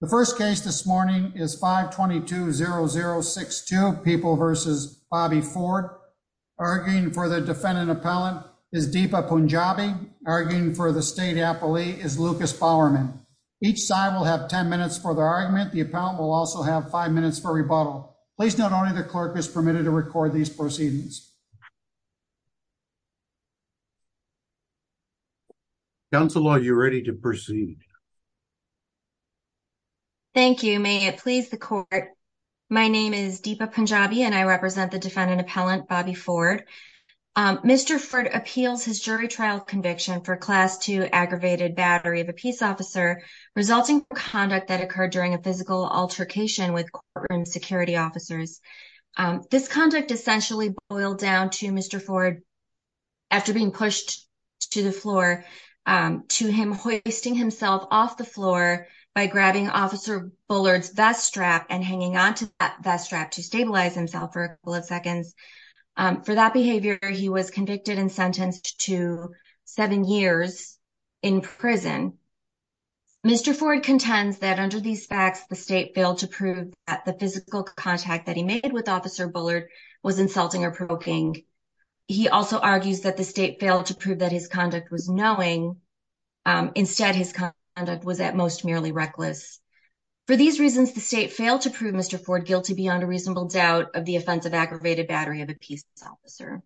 The first case this morning is 5 220062 people versus Bobby Ford arguing for the defendant appellant is Deepa Punjabi arguing for the state appellee is Lucas Bowerman. Each side will have 10 minutes for the argument. The appellant will also have five minutes for rebuttal. Please note only the clerk is permitted to record these proceedings. Counselor, are you ready to proceed? Thank you. May it please the court. My name is Deepa Punjabi and I represent the defendant appellant Bobby Ford. Mr. Ford appeals his jury trial conviction for class two aggravated battery of a peace officer resulting from conduct that occurred during a physical altercation with courtroom security officers. This conduct essentially boiled down to Mr. Ford after being pushed to the floor, to him hoisting himself off the floor by grabbing officer Bullard's vest strap and hanging on to that vest strap to stabilize himself for a couple of seconds. For that behavior, he was convicted and sentenced to seven years in prison. Mr. Ford contends that under these facts, the state failed to prove that the physical contact that he made with officer Bullard was insulting or provoking. He also argues that the state failed to prove that his conduct was knowing. Instead, his conduct was at most merely reckless. For these reasons, the state failed to prove Mr. Ford guilty beyond a reasonable doubt of the offensive aggravated battery of a peace officer.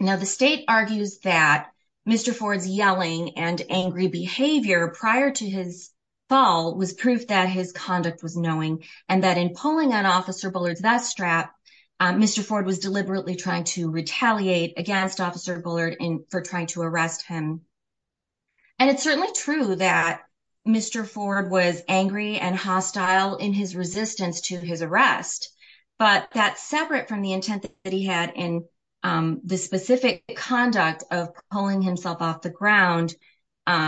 Now, the state argues that Mr. Ford's yelling and angry behavior prior to his fall was proof that his conduct was knowing and that in pulling on officer Bullard's vest strap, Mr. Ford was deliberately trying to retaliate against officer Bullard for trying to arrest him. And it's certainly true that Mr. Ford was angry and hostile in his resistance to his arrest, but that's separate from the intent that he had in the specific conduct of pulling himself off the floor. The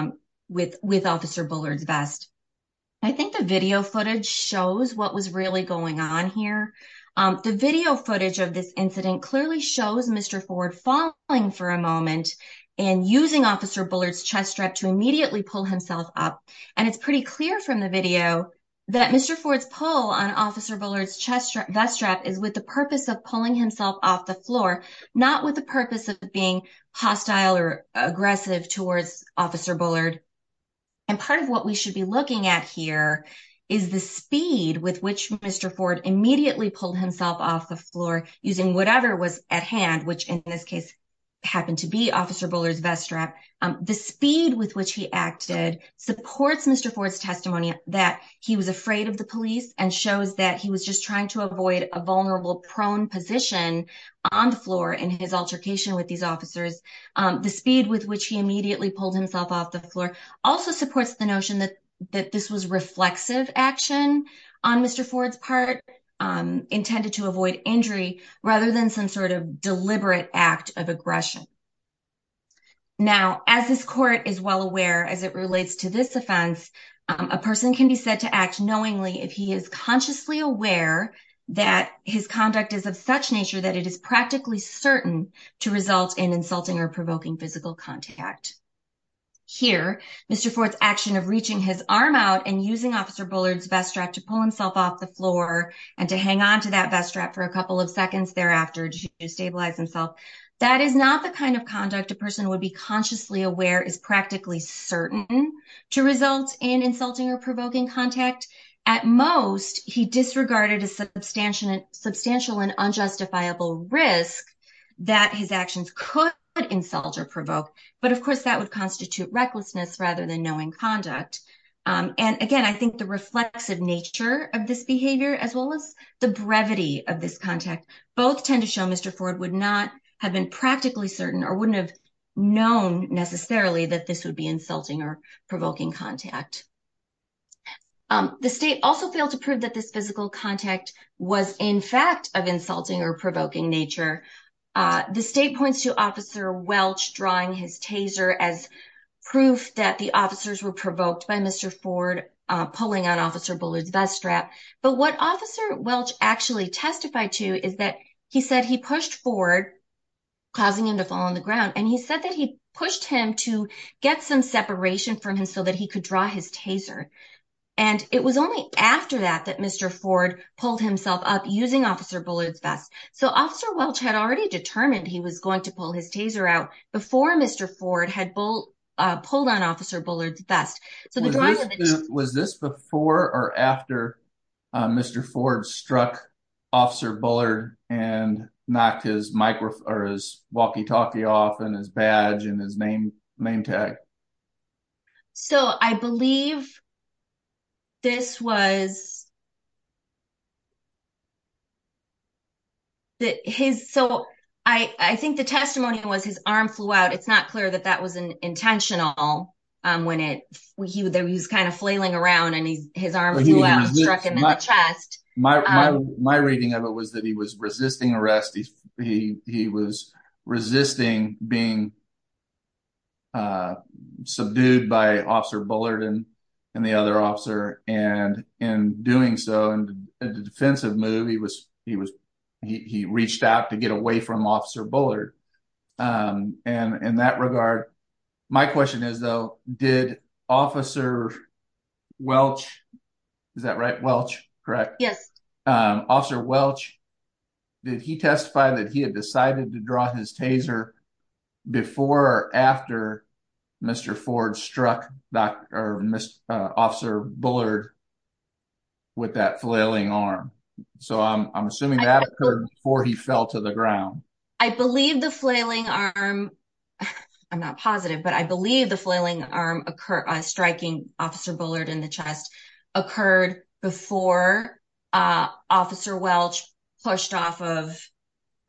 video footage shows what was really going on here. The video footage of this incident clearly shows Mr. Ford falling for a moment and using officer Bullard's chest strap to immediately pull himself up. And it's pretty clear from the video that Mr. Ford's pull on officer Bullard's vest strap is with the purpose of pulling himself off the floor, not with the purpose of being hostile or aggressive towards officer Bullard. And part of what we should be looking at here is the speed with which Mr. Ford immediately pulled himself off the floor using whatever was at hand, which in this case happened to be officer Bullard's vest strap. The speed with which he acted supports Mr. Ford's testimony that he was afraid of the police and shows that he was just trying to avoid a vulnerable prone position on the floor in his altercation with these officers. The speed with which he immediately pulled himself off the floor also supports the notion that this was reflexive action on Mr. Ford's part, intended to avoid injury rather than some sort of deliberate act of aggression. Now, as this court is well aware, as it relates to this offense, a person can be said to act knowingly if he is consciously aware that his conduct is of such nature that it is practically certain to result in insulting or provoking physical contact. Here, Mr. Ford's action of reaching his arm out and using officer Bullard's vest strap to pull himself off the floor and to hang on to that vest strap for a couple of seconds thereafter to stabilize himself, that is not the kind of conduct a person would be consciously aware is practically certain to result in insulting or provoking contact. At most, he disregarded a substantial and unjustifiable risk that his actions could insult or provoke, but of course that would constitute recklessness rather than knowing conduct. And again, I think the reflexive nature of this behavior as well as the brevity of this contact both tend to show Mr. Ford would not have been practically certain or wouldn't have known necessarily that this would be insulting or provoking contact. The state also failed to prove that this physical contact was in fact of insulting or provoking nature. The state points to officer Welch drawing his taser as proof that the officers were provoked by Mr. Ford pulling on officer Bullard's vest strap. But what officer Welch actually testified to is that he said he pushed forward causing him to fall on the ground and he said that he pushed him to get some separation from him so that he could draw his taser. And it was only after that Mr. Ford pulled himself up using officer Bullard's vest. So officer Welch had already determined he was going to pull his taser out before Mr. Ford had pulled on officer Bullard's vest. Was this before or after Mr. Ford struck officer Bullard and knocked his walkie-talkie off and his arm? So I think the testimony was his arm flew out. It's not clear that that was an intentional when he was kind of flailing around and his arm flew out and struck him in the chest. My reading of it was that he was resisting arrest. He was resisting being subdued by officer Bullard and the other officer and in doing so in a defensive move he was he was he reached out to get away from officer Bullard. And in that regard my question is though did officer Welch, is that right Welch, correct? Yes. Officer Welch, did he testify that he had Mr. Ford struck officer Bullard with that flailing arm? So I'm assuming that occurred before he fell to the ground. I believe the flailing arm, I'm not positive, but I believe the flailing arm occurred striking officer Bullard in the chest occurred before officer Welch pushed off of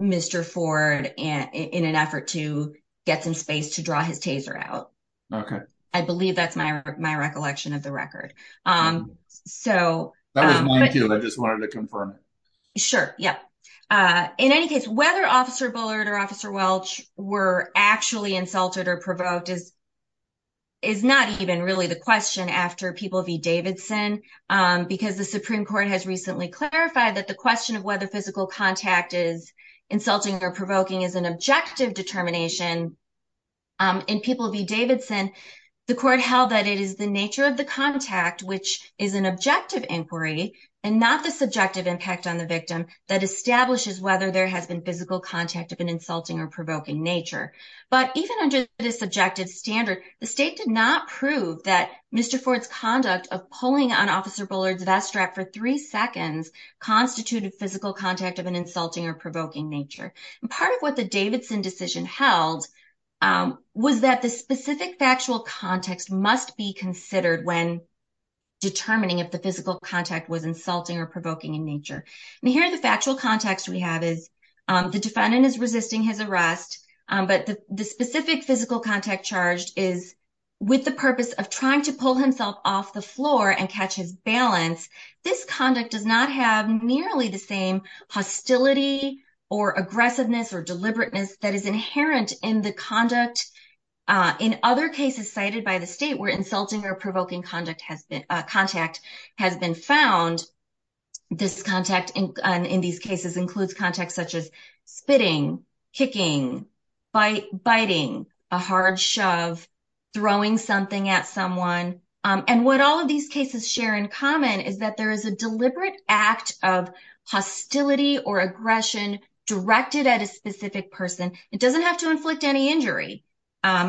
Mr. Ford in an effort to get some space to draw his taser out. Okay. I believe that's my recollection of the record. That was my cue, I just wanted to confirm it. Sure, yeah. In any case whether officer Bullard or officer Welch were actually insulted or provoked is not even really the question after people v Davidson because the Supreme Court has recently clarified that the question of whether physical contact is insulting or provoking is an objective determination. In people v Davidson the court held that it is the nature of the contact which is an objective inquiry and not the subjective impact on the victim that establishes whether there has been physical contact of an insulting or provoking nature. But even under this objective standard the state did not prove that Mr. Ford's conduct of pulling on officer Bullard's vest strap for three seconds constituted physical contact of an insulting or provoking nature. And part of what the Davidson decision held was that the specific factual context must be considered when determining if the physical contact was insulting or provoking in nature. And here the factual context we have is the defendant is resisting his arrest but the specific physical contact charged is with the purpose of trying to pull himself off the floor and catch his balance. This conduct does not have nearly the same hostility or aggressiveness or deliberateness that is inherent in the conduct in other cases cited by the state where insulting or provoking contact has been found. This contact in these cases includes contacts such as spitting, kicking, biting, a hard shove, throwing something at someone. And what all of these cases share in common is that there is a deliberate act of hostility or aggression directed at a specific person. It doesn't have to inflict any injury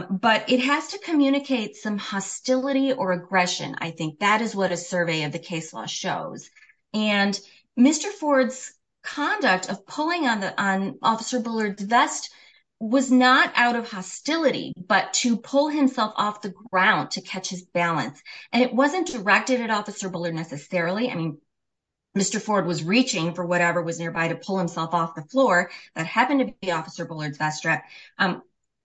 but it has to communicate some hostility or aggression. I think that is what a survey of the case law shows. And Mr. Ford's conduct of pulling on Officer Bullard's vest was not out of hostility but to pull himself off the ground to catch his balance. And it wasn't directed at Officer Bullard necessarily. I mean, Mr. Ford was reaching for whatever was nearby to pull himself off the floor that happened to be Officer Bullard's vest strap.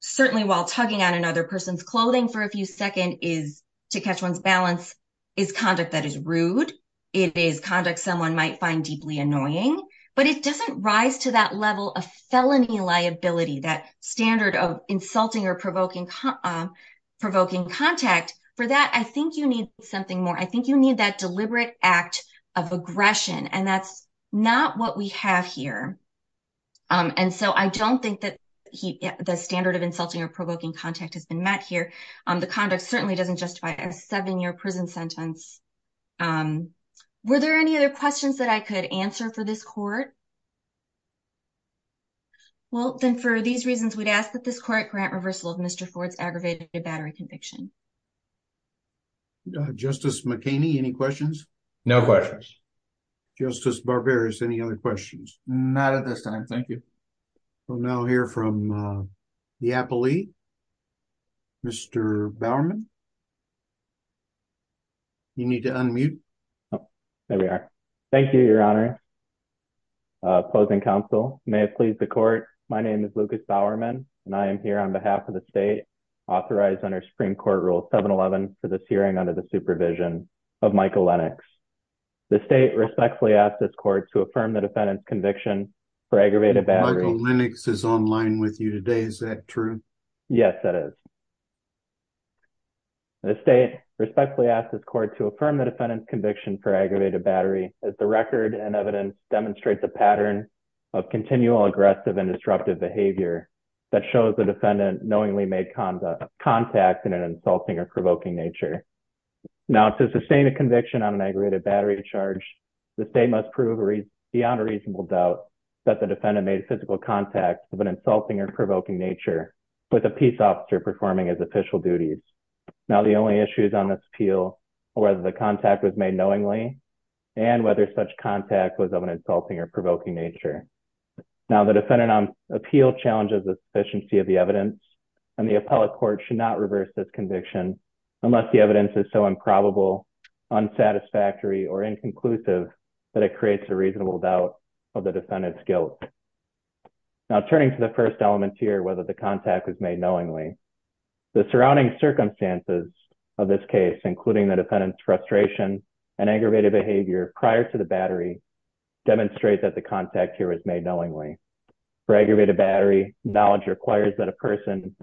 Certainly while tugging on another person's clothing for a few seconds is to catch one's balance is conduct that is rude. It is conduct someone might find deeply annoying. But it doesn't rise to that level of felony liability, that standard of insulting or provoking contact. For that, I think you need something more. I think you need that deliberate act of aggression. And that's not what we have here. And so I don't think that the standard of insulting or provoking contact has been met here. The conduct certainly doesn't justify a seven-year prison sentence. Were there any other questions that I could answer for this court? Well, then for these reasons, we'd ask that this court grant reversal of Mr. Ford's aggravated battery conviction. Justice McKinney, any questions? No questions. Justice Barberis, any other questions? Not at this time. Thank you. We'll now hear from the appellee, Mr. Bowerman. You need to unmute. There we are. Thank you, Your Honor. Opposing counsel. May it please the court. My name is Lucas Bowerman, and I am here on behalf of the state authorized under Supreme Court Rule 711 for this hearing under the supervision of Michael Lennox. The state respectfully asks this court to affirm the defendant's conviction for aggravated battery. Michael Lennox is online with you today. Is that true? Yes, that is. The state respectfully asks this court to affirm the defendant's conviction for aggravated battery as the record and evidence demonstrates a pattern of continual aggressive and disruptive behavior that shows the defendant knowingly made contact in an insulting or provoking nature. Now, to sustain a conviction on an aggravated battery charge, the state must prove beyond a reasonable doubt that the defendant made physical contact with an insulting or provoking nature with a peace officer performing his official duties. Now, the only issues on this appeal are whether the contact was made knowingly and whether such contact was of an insulting or provoking nature. Now, the defendant on appeal challenges the sufficiency of the evidence, and the appellate court should not reverse this conviction unless the evidence is so improbable, unsatisfactory, or inconclusive that it creates a reasonable doubt of the defendant's guilt. Now, turning to the first element here, whether the contact was made knowingly, the surrounding circumstances of this case, including the defendant's frustration and aggravated behavior prior to the battery, demonstrate that the contact here was made knowingly. For aggravated battery, knowledge requires that a person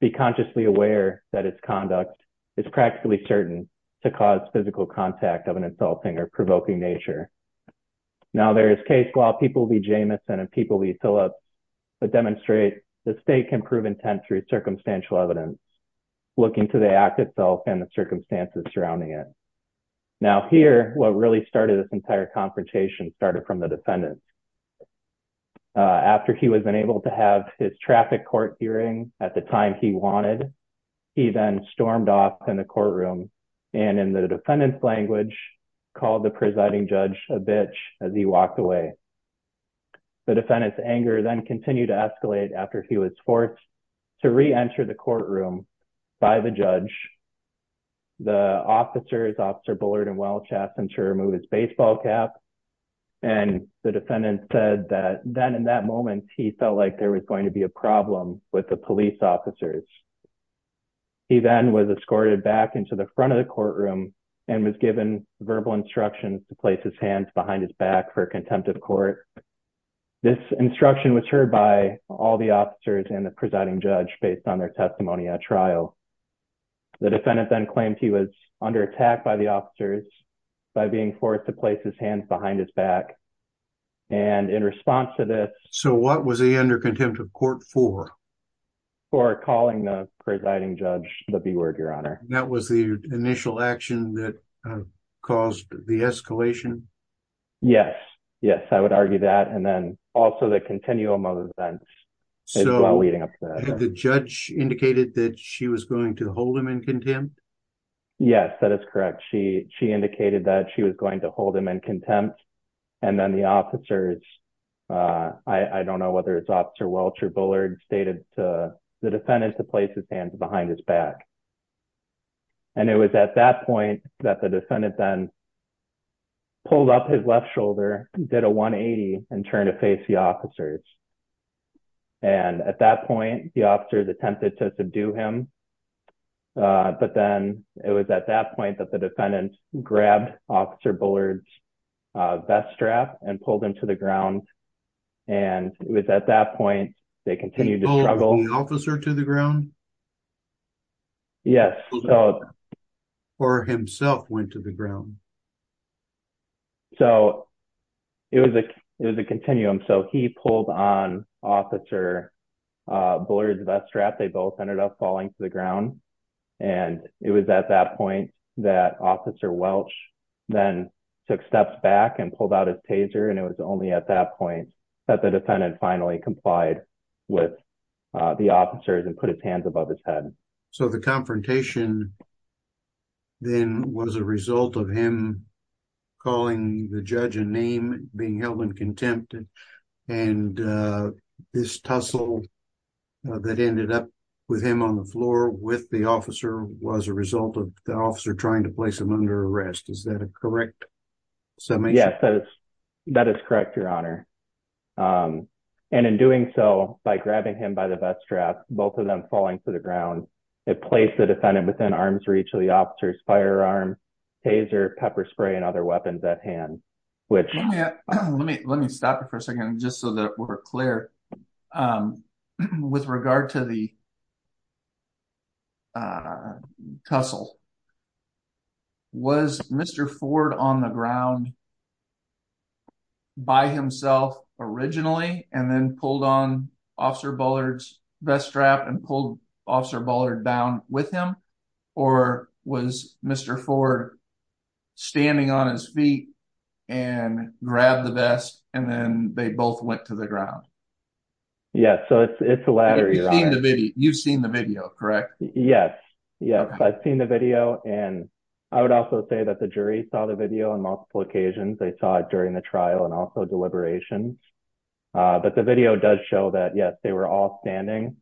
be consciously aware that its conduct is practically certain to cause physical contact of an insulting or provoking nature. Now, there is case law, people be Jamison and people be Phillips that demonstrate the state can prove intent through circumstantial evidence, looking to the act itself and the circumstances surrounding it. Now, here, what really started this entire confrontation started from the defendant. After he was unable to have his traffic court hearing at the time he wanted, he then stormed off in the courtroom, and in the defendant's language, called the presiding judge a bitch as he walked away. The defendant's anger then continued to escalate after he was forced to re-enter the courtroom by the judge. The officers, Officer Bullard and Welch, asked him to remove his baseball cap, and the defendant said that then in that moment, he felt like there was going to be a problem with the police officers. He then was escorted back into the front of the courtroom, and was given verbal instructions to place his hands behind his back for contempt of court. This instruction was heard by all the officers and the presiding judge based on their testimony at trial. The defendant then claimed he was under attack by the officers by being forced to place his hands behind his back. And in response So what was he under contempt of court for? For calling the presiding judge the B word, your honor. That was the initial action that caused the escalation? Yes, yes, I would argue that. And then also the continuum of events. So the judge indicated that she was going to hold him in contempt? Yes, that is correct. She she indicated that she was going to hold him in I don't know whether it's Officer Welch or Bullard stated to the defendant to place his hands behind his back. And it was at that point that the defendant then pulled up his left shoulder did a 180 and turn to face the officers. And at that point, the officers attempted to subdue him. But then it was at that point that the defendant grabbed Officer Bullard's and pulled him to the ground. And it was at that point, they continued to struggle officer to the ground. Yes. So for himself went to the ground. So it was a it was a continuum. So he pulled on Officer Bullard's vest strap, they both ended up falling to the ground. And it was at that point that Officer Welch then took steps back and pulled out his taser. And it was only at that point that the defendant finally complied with the officers and put his hands above his head. So the confrontation then was a result of him calling the judge a name being held in contempt. And this tussle that ended up with him on the floor with the officer was a result of the officer trying to place him under arrest. Is that a correct summation? Yes, that is correct, Your Honor. And in doing so by grabbing him by the vest strap, both of them falling to the ground. It placed the defendant within arm's reach of the officer's firearm, taser, pepper spray, and other weapons at hand, which... Let me stop it for a second, just so that we're clear. With regard to the tussle, was Mr. Ford on the ground by himself originally and then pulled on Officer Bullard's vest strap and pulled Officer Bullard down with him? Or was Mr. Ford standing on his feet and grabbed the vest and then they both went to the ground? Yes, so it's a ladder. You've seen the video, correct? Yes, I've seen the video and I would also say that the jury saw the video on multiple occasions. They saw it during the trial and also deliberations. But the video does show that, yes, they were all standing.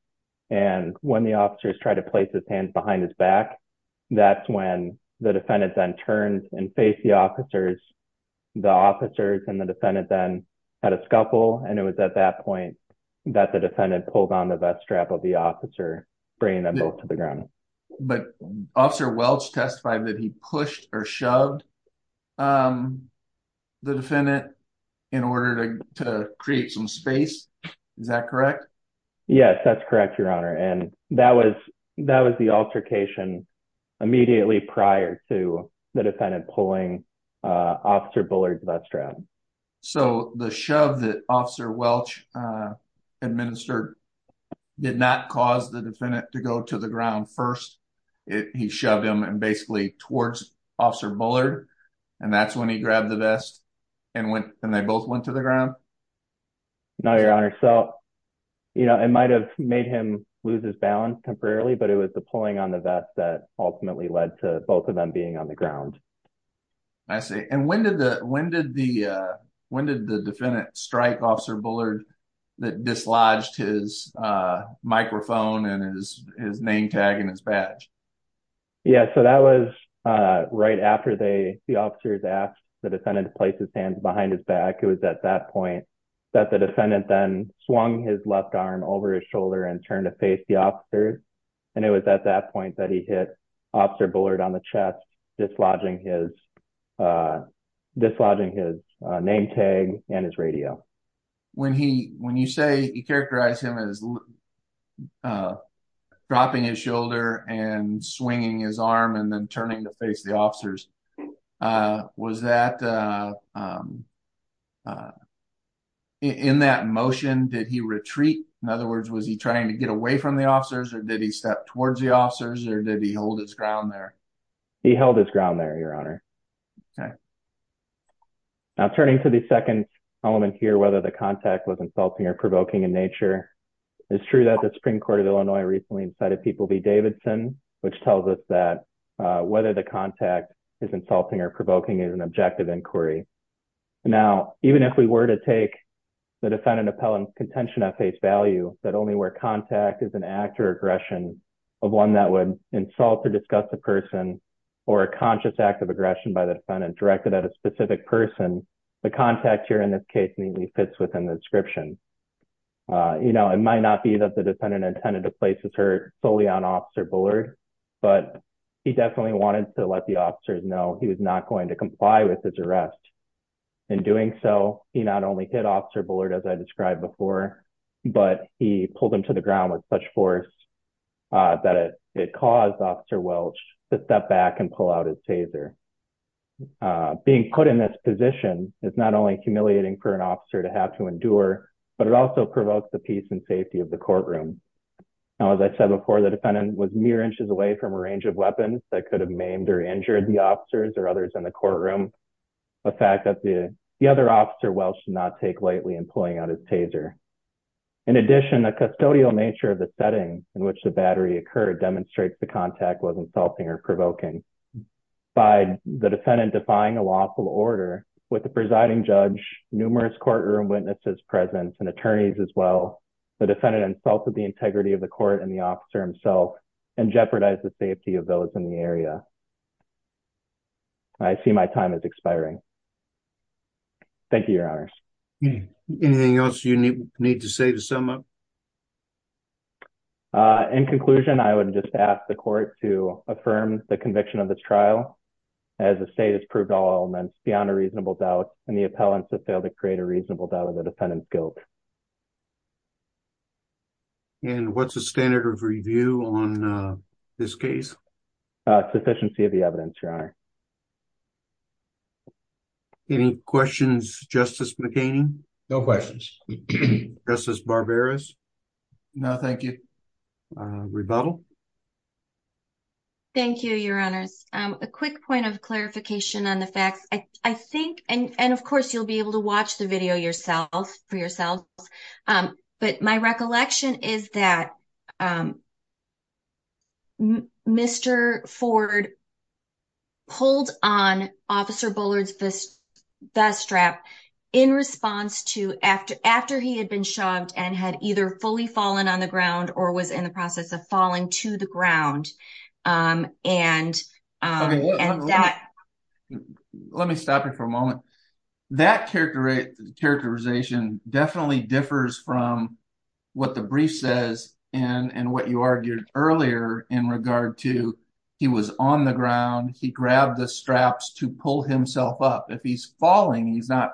And when the officers tried to place his hands behind his back, that's when the defendant then and faced the officers. The officers and the defendant then had a scuffle and it was at that point that the defendant pulled on the vest strap of the officer, bringing them both to the ground. But Officer Welch testified that he pushed or shoved the defendant in order to create some space. Is that correct? Yes, that's correct, Your Honor. And that was the altercation immediately prior to the defendant pulling Officer Bullard's vest strap. So the shove that Officer Welch administered did not cause the defendant to go to the ground first? He shoved him and basically towards Officer Bullard and that's when he grabbed the vest and went and they both went to the ground? No, Your Honor. So, you know, it might have made him lose his balance temporarily, but it was the pulling on the vest that ultimately led to both of them being on the ground. I see. And when did the defendant strike Officer Bullard that dislodged his microphone and his name tag and his badge? Yeah, so that was right after the officers asked the defendant to place his hands behind his back. It was at that point that the defendant then swung his left arm over his shoulder and turned to face the officers. And it was at that point that he hit Officer Bullard on the chest, dislodging his name tag and his radio. When you say you characterize him as dropping his shoulder and swinging his arm and then turning to face the officers, was that in that motion, did he retreat? In other words, was he trying to get away from the officers or did he step towards the officers or did he hold his ground there? He held his ground there, Your Honor. Okay. Now, turning to the second element here, whether the contact was insulting or provoking in nature. It's true that the Supreme Court of Illinois recently decided people be Davidson, which tells us that whether the contact is insulting or provoking is an objective inquiry. Now, even if we were to take the defendant appellant's contention at face value, that only where contact is an act or aggression of one that would insult or disgust the person or a conscious act of aggression by the defendant directed at a specific person, the contact here in this case neatly fits within the description. It might not be that the defendant intended to place his hurt solely on Officer Bullard, but he definitely wanted to let the officers know he was not going to comply with his arrest. In doing so, he not only hit Officer Bullard, as I described before, but he pulled him to the ground with such force that it caused Officer Welch to step back and pull out his taser. Being put in this position is not only humiliating for an officer to have to endure, but it also provokes the peace and safety of the courtroom. Now, as I said before, the defendant was mere inches away from a range of weapons that could have maimed or injured the officers or others in the courtroom. The fact that the other officer, Welch, did not take lightly in pulling out his taser. In addition, the custodial nature of the setting in which the battery occurred demonstrates the contact was insulting or provoking. By the defendant defying a lawful order with the presiding judge, numerous courtroom witnesses presence and attorneys as the defendant insulted the integrity of the court and the officer himself and jeopardized the safety of those in the area. I see my time is expiring. Thank you, Your Honors. Anything else you need to say to sum up? In conclusion, I would just ask the court to affirm the conviction of this trial as the state has proved all elements beyond a reasonable doubt and the appellants have failed to create a reasonable doubt. And what's the standard of review on this case? Sufficiency of the evidence, Your Honor. Any questions, Justice McHaney? No questions. Justice Barberis? No, thank you. Rebuttal? Thank you, Your Honors. A quick point of clarification on the facts. I think, and of course, you'll be able to watch the video for yourself. But my recollection is that Mr. Ford pulled on Officer Bullard's vest strap in response to after he had been shoved and had either fully fallen on the ground or was in the process of falling to the ground. Let me stop you for a moment. That characterization definitely differs from what the brief says and what you argued earlier in regard to, he was on the ground, he grabbed the straps to pull himself up. If he's falling, he's not.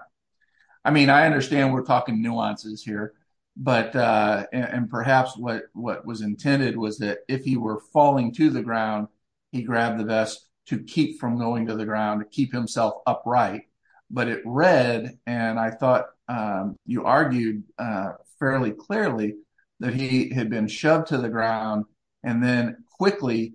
I mean, I understand we're talking nuances here. And perhaps what was intended was that if he were falling to the ground, he grabbed the vest to keep from going to the ground, to keep himself upright. But it read, and I thought you argued fairly clearly, that he had been shoved to the ground and then quickly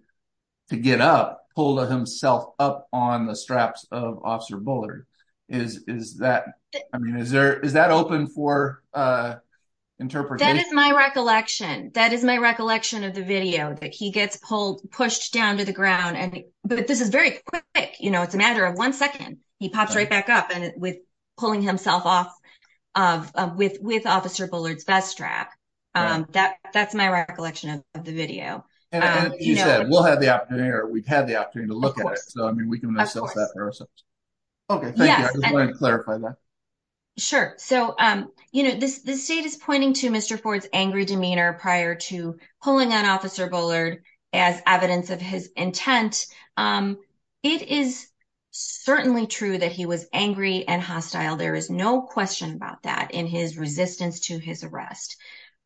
to get up, pulled himself up on the straps of Officer Bullard. Is that, I mean, is there, is that open for interpretation? That is my recollection. That is my recollection of the video, that he gets pushed down to the ground. But this is very quick. You know, it's a matter of one second. He pops right back up and with pulling himself off with Officer Bullard's vest strap. That's my recollection of the video. And you said, we'll have the opportunity or we've had the opportunity to look at it. So I mean, we can assess that. Okay, thank you. I just wanted to angry demeanor prior to pulling on Officer Bullard as evidence of his intent. It is certainly true that he was angry and hostile. There is no question about that in his resistance to his arrest.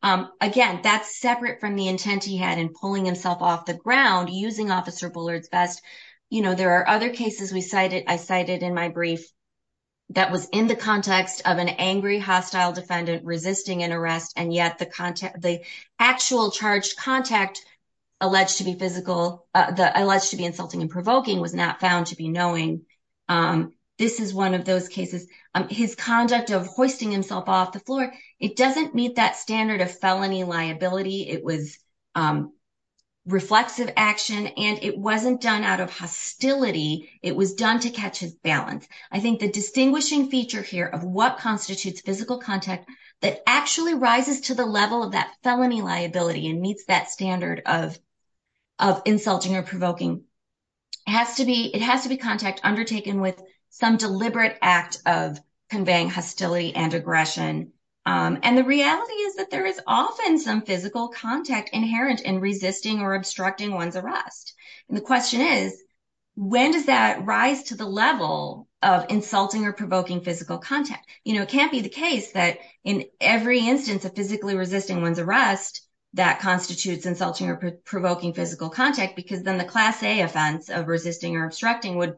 Again, that's separate from the intent he had in pulling himself off the ground using Officer Bullard's vest. You know, there are other cases we cited, I cited in my brief, that was in the context of an angry, hostile defendant resisting an arrest, and yet the actual charged contact alleged to be physical, alleged to be insulting and provoking was not found to be knowing. This is one of those cases. His conduct of hoisting himself off the floor, it doesn't meet that standard of felony liability. It was the distinguishing feature here of what constitutes physical contact that actually rises to the level of that felony liability and meets that standard of insulting or provoking. It has to be contact undertaken with some deliberate act of conveying hostility and aggression. And the reality is that there is often some physical contact inherent in resisting or of insulting or provoking physical contact. You know, it can't be the case that in every instance of physically resisting one's arrest, that constitutes insulting or provoking physical contact because then the class A offense of resisting or obstructing would,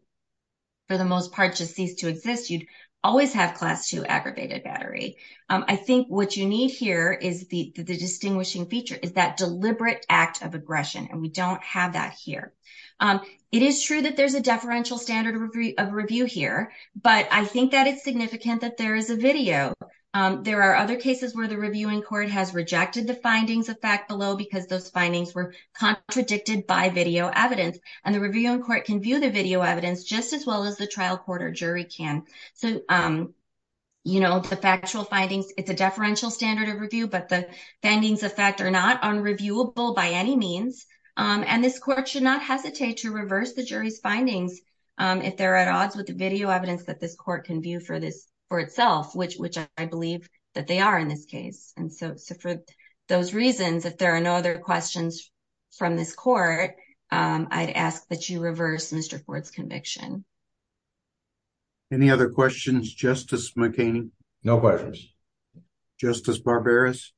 for the most part, just cease to exist. You'd always have class two aggravated battery. I think what you need here is the distinguishing feature is that deliberate act of aggression, and we don't have that here. It is true that there's a deferential standard of review here, but I think that it's significant that there is a video. There are other cases where the reviewing court has rejected the findings of fact below because those findings were contradicted by video evidence, and the reviewing court can view the video evidence just as well as the trial court or jury can. So, you know, the factual findings, it's a deferential standard of review, but the findings of fact are not unreviewable by any means, and this court should not hesitate to reverse the jury's findings if they're at odds with the video evidence that this court can view for this for itself, which I believe that they are in this case. And so for those reasons, if there are no other questions from this court, I'd ask that you reverse Mr. Ford's conviction. Any other questions, Justice McCain? No questions. Justice Barberis?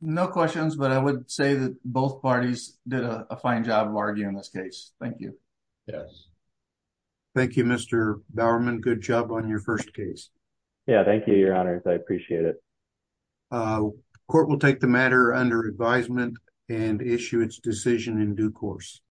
No questions, but I would say that both parties did a fine job of arguing this case. Thank you. Yes. Thank you, Mr. Bowerman. Good job on your first case. Yeah, thank you, Your Honor. I appreciate it. Court will take the matter under advisement and issue its decision in due course.